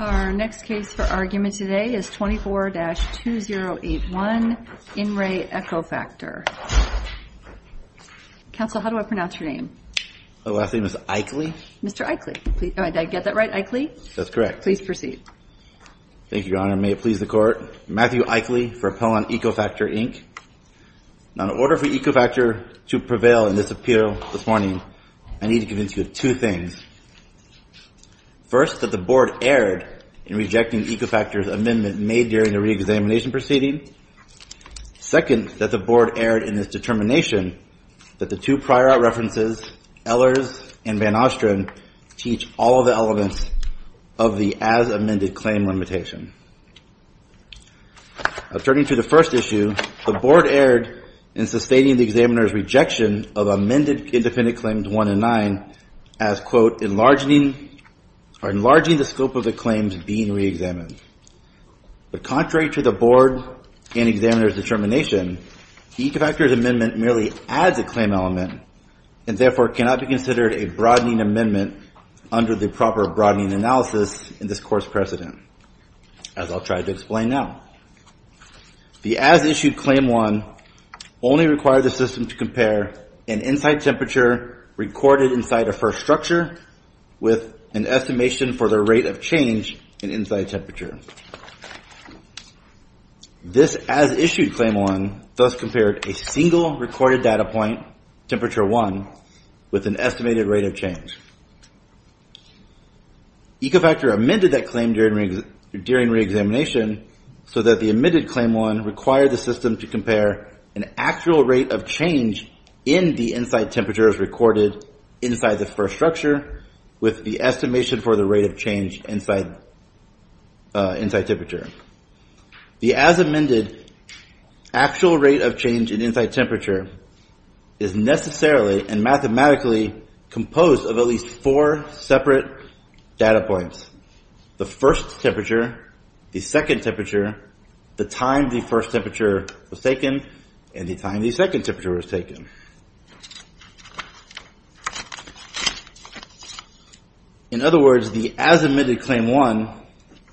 Our next case for argument today is 24-2081, In Re. EcoFactor. Counsel, how do I pronounce your name? My last name is Eichle. Mr. Eichle, did I get that right? Eichle? That's correct. Please proceed. Thank you, Your Honor. May it please the Court. Matthew Eichle for Pellon EcoFactor, Inc. Now, in order for EcoFactor to prevail in this appeal this morning, I need to convince you of two things. First, that the Board erred in rejecting EcoFactor's amendment made during the re-examination proceeding. Second, that the Board erred in its determination that the two prior references, Ehlers and Van Ostren, teach all of the elements of the as-amended claim limitation. Turning to the first issue, the Board erred in sustaining the examiner's rejection of amended independent claims 1 and 9 as, quote, enlarging the scope of the claims being re-examined. But contrary to the Board and examiner's determination, EcoFactor's amendment merely adds a claim element and therefore cannot be considered a broadening amendment under the proper broadening analysis in this Court's precedent, as I'll try to explain now. The as-issued claim 1 only required the system to compare an inside temperature recorded inside a first structure with an estimation for the rate of change in inside temperature. This as-issued claim 1 thus compared a single recorded data point, temperature 1, with an estimated rate of change. EcoFactor amended that claim during re-examination so that the omitted claim 1 required the system to compare an actual rate of change in the inside temperature as recorded inside the first structure with the estimation for the rate of change inside temperature. The as-amended actual rate of change in inside temperature is necessarily and mathematically composed of at least four separate data points. The first temperature, the second temperature, the time the first temperature was taken, and the time the second temperature was taken. In other words, the as-admitted claim 1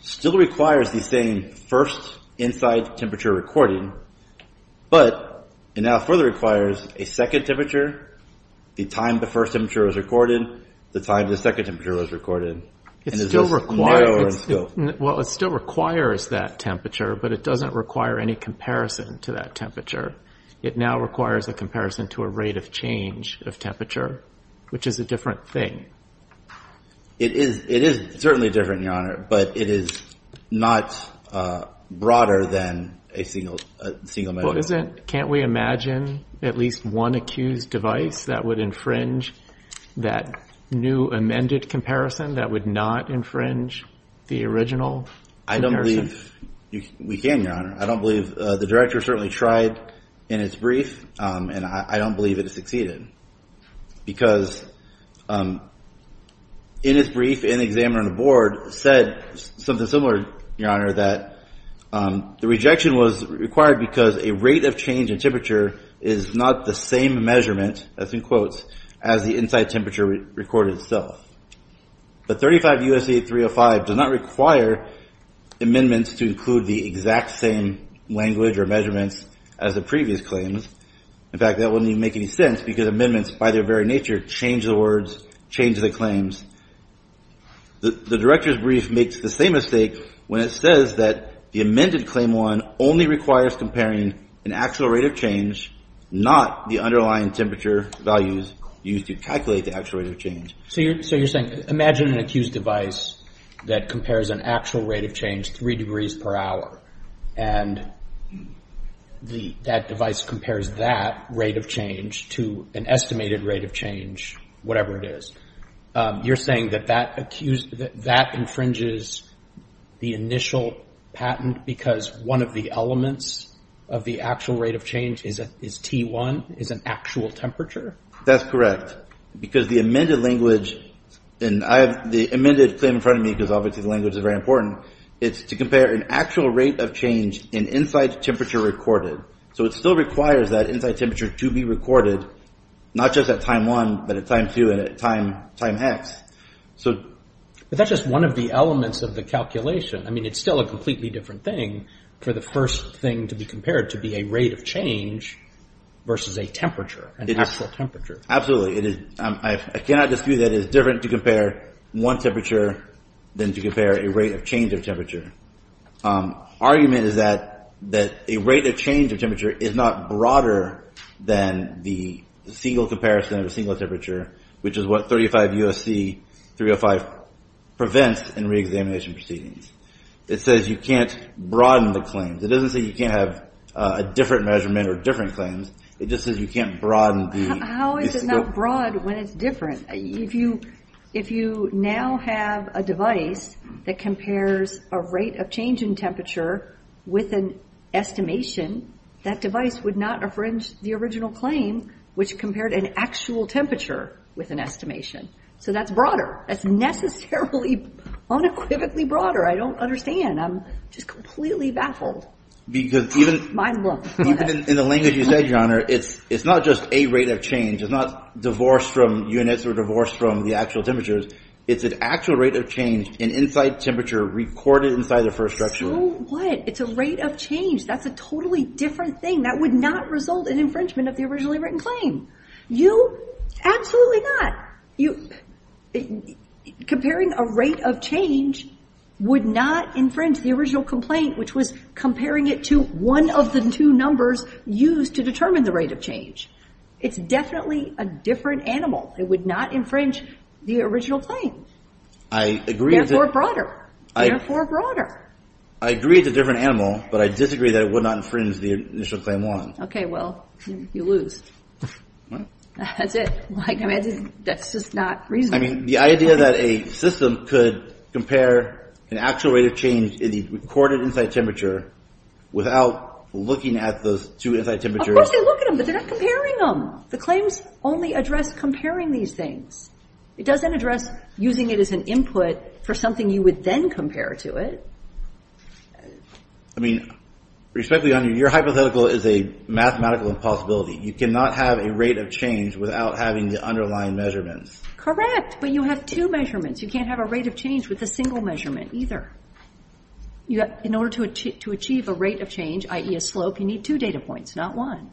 still requires the same first inside temperature recording, but it now further requires a second temperature, the time the first temperature was recorded, the time the second temperature was recorded. And it's just narrower in scope. Well, it still requires that temperature, but it doesn't require any comparison to that temperature. It now requires a comparison to a rate of change of temperature, which is a different thing. It is certainly different, Your Honor, but it is not broader than a single memo. Can't we imagine at least one accused device that would infringe that new amended comparison that would not infringe the original comparison? I don't believe we can, Your Honor. I don't believe the director certainly tried in its brief, and I don't believe it succeeded. Because in its brief, an examiner on the board said something similar, Your Honor, that the rejection was required because a rate of change in temperature is not the same measurement, as in quotes, as the inside temperature recorded itself. But 35 U.S.A. 305 does not require amendments to include the exact same language or measurements as the previous claims. In fact, that wouldn't even make any sense, because amendments, by their very nature, change the words, change the claims. The director's brief makes the same mistake when it says that the amended Claim 1 only requires comparing an actual rate of change, not the underlying temperature values used to calculate the actual rate of change. So you're saying, imagine an accused device that compares an actual rate of change 3 degrees per hour, and that device compares that rate of change to an estimated rate of change, whatever it is. You're saying that that infringes the initial patent because one of the elements of the actual rate of change is T1, is an actual temperature? That's correct. Because the amended language, and I have the amended claim in front of me, because obviously the language is very important, it's to compare an actual rate of change in inside temperature recorded. So it still requires that inside temperature to be recorded, not just at time 1, but at time 2 and at time hex. But that's just one of the elements of the calculation. I mean, it's still a completely different thing for the first thing to be compared to be a rate of change versus a temperature, an actual temperature. Absolutely, I cannot dispute that it is different to compare one temperature than to compare a rate of change of temperature. Argument is that a rate of change of temperature is not broader than the single comparison of a single temperature, which is what 35 U.S.C. 305 prevents in re-examination proceedings. It says you can't broaden the claims. It doesn't say you can't have a different measurement or different claims, it just says you can't broaden the- How is it not broad when it's different? If you now have a device that compares a rate of change in temperature with an estimation, that device would not infringe the original claim, which compared an actual temperature with an estimation. So that's broader. That's necessarily unequivocally broader. I don't understand. I'm just completely baffled. Because even- Mind blown. Even in the language you said, Your Honor, it's not just a rate of change. It's not divorced from units or divorced from the actual temperatures. It's an actual rate of change in inside temperature recorded inside the first structure. So what? It's a rate of change. That's a totally different thing. That would not result in infringement of the originally written claim. You, absolutely not. You, comparing a rate of change would not infringe the original complaint, which was comparing it to one of the two numbers used to determine the rate of change. It's definitely a different animal. It would not infringe the original claim. I agree- Therefore, broader. Therefore, broader. I agree it's a different animal, but I disagree that it would not infringe the initial claim one. Okay, well, you lose. That's it. I mean, that's just not reasonable. I mean, the idea that a system could compare an actual rate of change in the recorded inside temperature without looking at those two inside temperatures- Of course they look at them, but they're not comparing them. The claims only address comparing these things. It doesn't address using it as an input for something you would then compare to it. I mean, respectfully, your hypothetical is a mathematical impossibility. You cannot have a rate of change without having the underlying measurements. Correct, but you have two measurements. You can't have a rate of change with a single measurement, either. In order to achieve a rate of change, i.e. a slope, you need two data points, not one.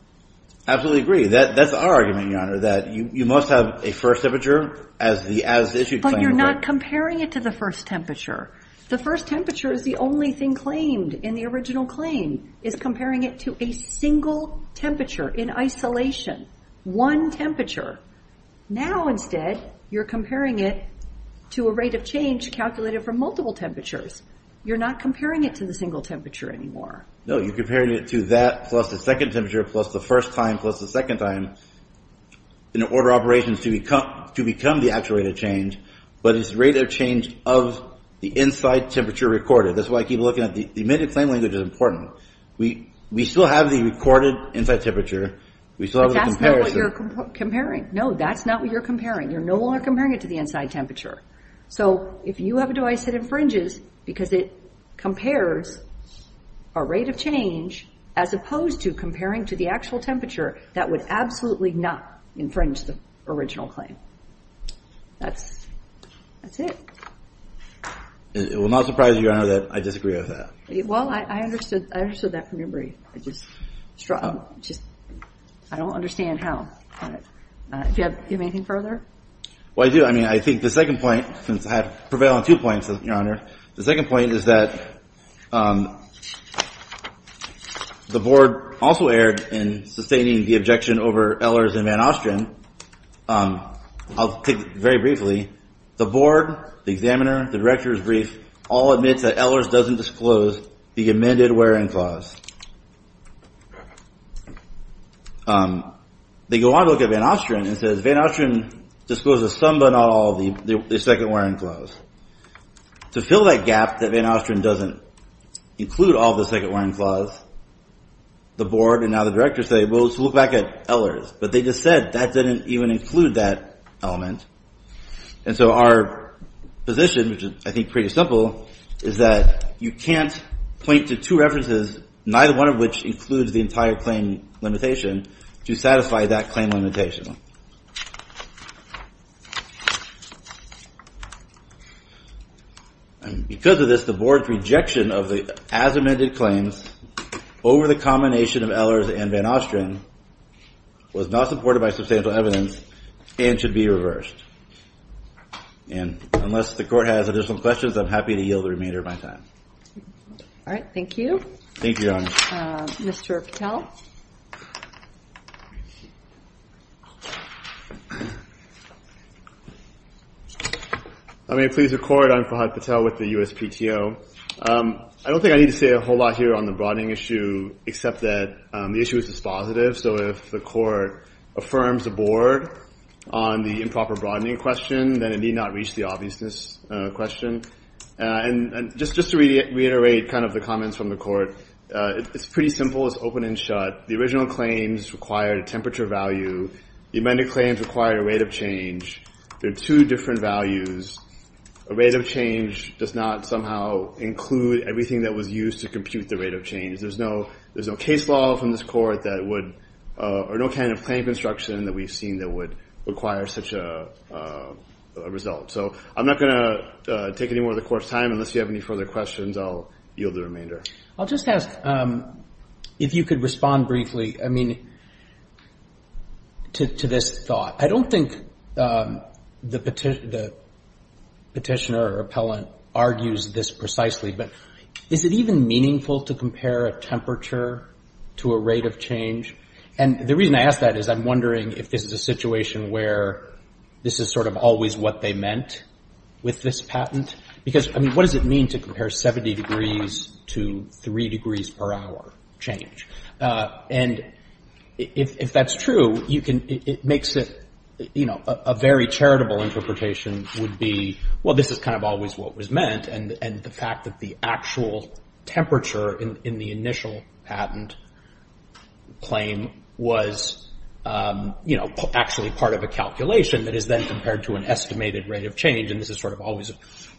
Absolutely agree. That's our argument, Your Honor, that you must have a first temperature as the as-issued claim- But you're not comparing it to the first temperature. The first temperature is the only thing claimed in the original claim, is comparing it to a single temperature in isolation. One temperature. Now, instead, you're comparing it to a rate of change calculated from multiple temperatures. You're not comparing it to the single temperature anymore. No, you're comparing it to that plus the second temperature plus the first time plus the second time in order of operations to become the actual rate of change, but it's the rate of change of the inside temperature recorded. That's why I keep looking at the, the emitted claim language is important. We still have the recorded inside temperature. We still have the comparison. But that's not what you're comparing. No, that's not what you're comparing. You're no longer comparing it to the inside temperature. So if you have a device that infringes because it compares a rate of change as opposed to comparing to the actual temperature, that would absolutely not infringe the original claim. That's, that's it. It will not surprise you, Your Honor, that I disagree with that. Well, I understood, I understood that from your brief. I just, I just, I don't understand how. Do you have anything further? Well, I do. I mean, I think the second point, since I have prevailed on two points, Your Honor, the second point is that the board also erred in sustaining the objection over Ehlers and Van Ostrin. I'll take it very briefly. The board, the examiner, the director's brief all admits that Ehlers doesn't disclose the amended wearing clause. They go on to look at Van Ostrin and says, Van Ostrin discloses some but not all of the second wearing clause. To fill that gap that Van Ostrin doesn't include all the second wearing clause, the board and now the director say, well, let's look back at Ehlers. But they just said that didn't even include that element. And so our position, which is, I think, pretty simple, is that you can't point to two references neither one of which includes the entire claim limitation to satisfy that claim limitation. And because of this, the board's rejection of the as amended claims over the combination of Ehlers and Van Ostrin was not supported by substantial evidence and should be reversed. And unless the court has additional questions, I'm happy to yield the remainder of my time. All right, thank you. Thank you, Your Honor. Mr. Patel. I may please record, I'm Fahad Patel with the USPTO. I don't think I need to say a whole lot here on the broadening issue, except that the issue is dispositive. So if the court affirms the board on the improper broadening question, then it need not reach the obviousness question. And just to reiterate kind of the comments from the court, it's pretty simple, it's open and shut. The original claims required a temperature value. The amended claims required a rate of change. They're two different values. A rate of change does not somehow include everything that was used to compute the rate of change. There's no case law from this court that would, or no kind of claim construction that we've seen that would require such a result. So I'm not gonna take any more of the court's time, unless you have any further questions, I'll yield the remainder. I'll just ask if you could respond briefly, I mean, to this thought. I don't think the petitioner or appellant argues this precisely, but is it even meaningful to compare a temperature to a rate of change? And the reason I ask that is I'm wondering if this is a situation where this is sort of always what they meant with this patent? Because, I mean, what does it mean to compare 70 degrees to three degrees per hour change? And if that's true, you can, it makes it, you know, a very charitable interpretation would be, well, this is kind of always what was meant, and the fact that the actual temperature in the initial patent claim was, you know, actually part of a calculation that is then compared to an estimated rate of change, and this is sort of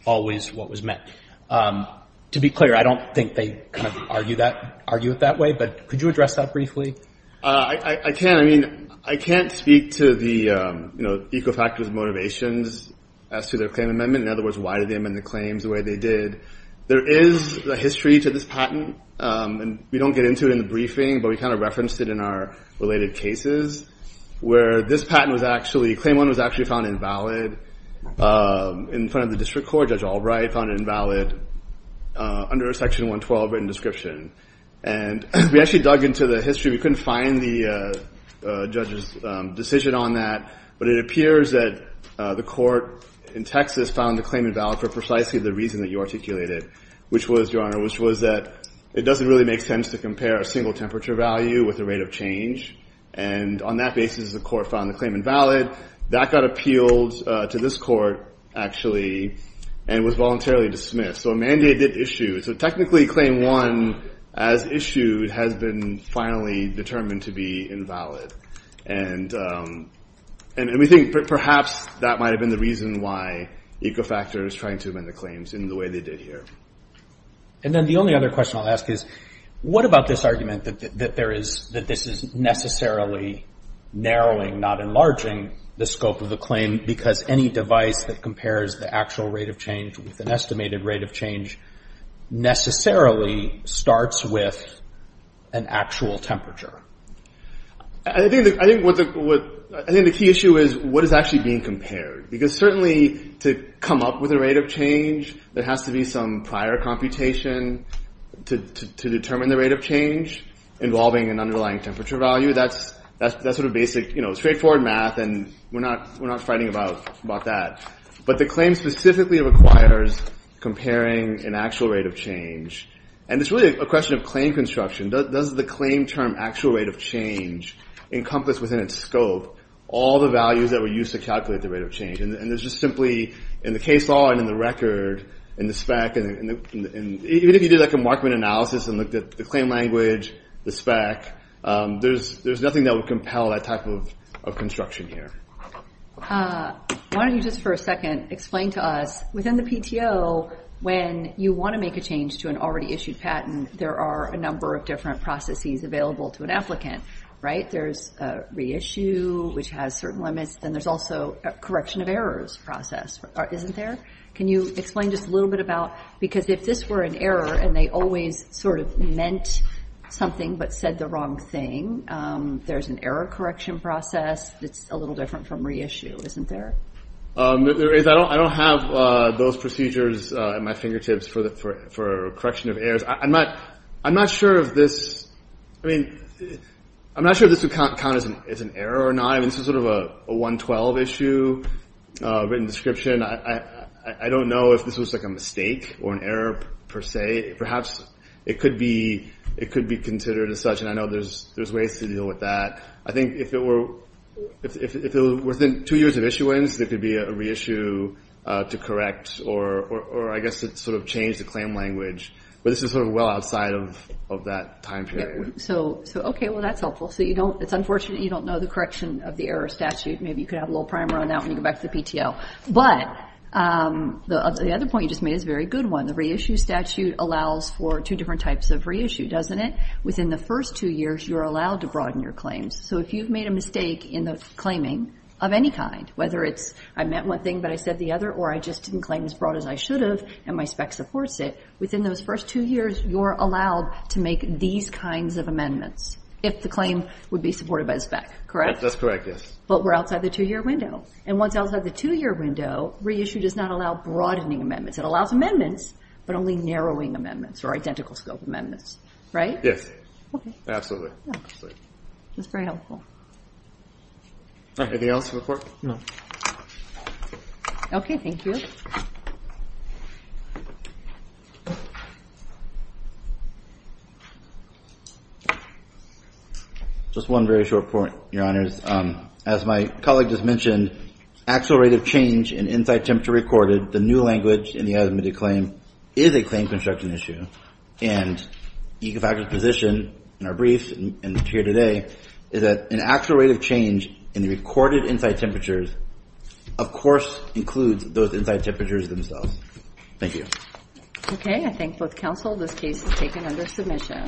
always what was meant. To be clear, I don't think they kind of argue that, argue it that way, but could you address that briefly? I can't, I mean, I can't speak to the, you know, eco-factors motivations as to their claim amendment. In other words, why did they amend the claims the way they did? There is a history to this patent, and we don't get into it in the briefing, but we kind of referenced it in our related cases, where this patent was actually, claim one was actually found invalid in front of the district court. Judge Albright found it invalid under section 112 written description, and we actually dug into the history. We couldn't find the judge's decision on that, but it appears that the court in Texas found the claim invalid for precisely the reason that you articulated, which was, Your Honor, which was that it doesn't really make sense to compare a single temperature value with a rate of change, and on that basis, the court found the claim invalid. That got appealed to this court, actually, and was voluntarily dismissed, so a mandate did issue. So technically, claim one, as issued, has been finally determined to be invalid, and we think perhaps that might have been the reason why eco-factors trying to amend the claims in the way they did here. And then the only other question I'll ask is, what about this argument that there is, that this is necessarily narrowing, not enlarging the scope of the claim, because any device that compares the actual rate of change with an estimated rate of change necessarily starts with an actual temperature? I think the key issue is, what is actually being compared? Because certainly, to come up with a rate of change, there has to be some prior computation to determine the rate of change involving an underlying temperature value. That's sort of basic, straightforward math, and we're not fighting about that. But the claim specifically requires comparing an actual rate of change, and it's really a question of claim construction. Does the claim term actual rate of change encompass within its scope all the values that were used to calculate the rate of change? And there's just simply, in the case law and in the record, in the spec, even if you did a Markman analysis and looked at the claim language, the spec, there's nothing that would compel that type of construction here. Why don't you, just for a second, explain to us, within the PTO, when you wanna make a change to an already issued patent, there are a number of different processes available to an applicant, right? There's reissue, which has certain limits, then there's also a correction of errors process, isn't there? Can you explain just a little bit about, because if this were an error, and they always sort of meant something, but said the wrong thing, there's an error correction process that's a little different from reissue, isn't there? I don't have those procedures at my fingertips for correction of errors. I'm not sure if this, I mean, I'm not sure if this would count as an error or not. I mean, this is sort of a 112 issue written description. I don't know if this was like a mistake or an error, per se. Perhaps it could be considered as such, and I know there's ways to deal with that. I think if it were within two years of issuance, there could be a reissue to correct, or I guess to sort of change the claim language. But this is sort of well outside of that time period. So, okay, well, that's helpful. So you don't, it's unfortunate you don't know the correction of the error statute. Maybe you could have a little primer on that when you go back to the PTO. But the other point you just made is a very good one. The reissue statute allows for two different types of reissue, doesn't it? Within the first two years, you're allowed to broaden your claims. So if you've made a mistake in the claiming of any kind, whether it's I meant one thing, but I said the other, or I just didn't claim as broad as I should have, and my spec supports it, within those first two years, you're allowed to make these kinds of amendments if the claim would be supported by the spec, correct? That's correct, yes. But we're outside the two-year window. And once outside the two-year window, reissue does not allow broadening amendments. It allows amendments, but only narrowing amendments, or identical scope amendments, right? Yes. Absolutely. That's very helpful. Anything else for the court? No. Okay, thank you. Just one very short point, Your Honors. As my colleague just mentioned, actual rate of change in inside temperature recorded, the new language in the as-admitted claim, is a claim construction issue. And the effective position in our brief and here today is that an actual rate of change in the recorded inside temperatures of course includes those inside temperatures themselves. Thank you. Okay, I thank both counsel. This case is taken under submission.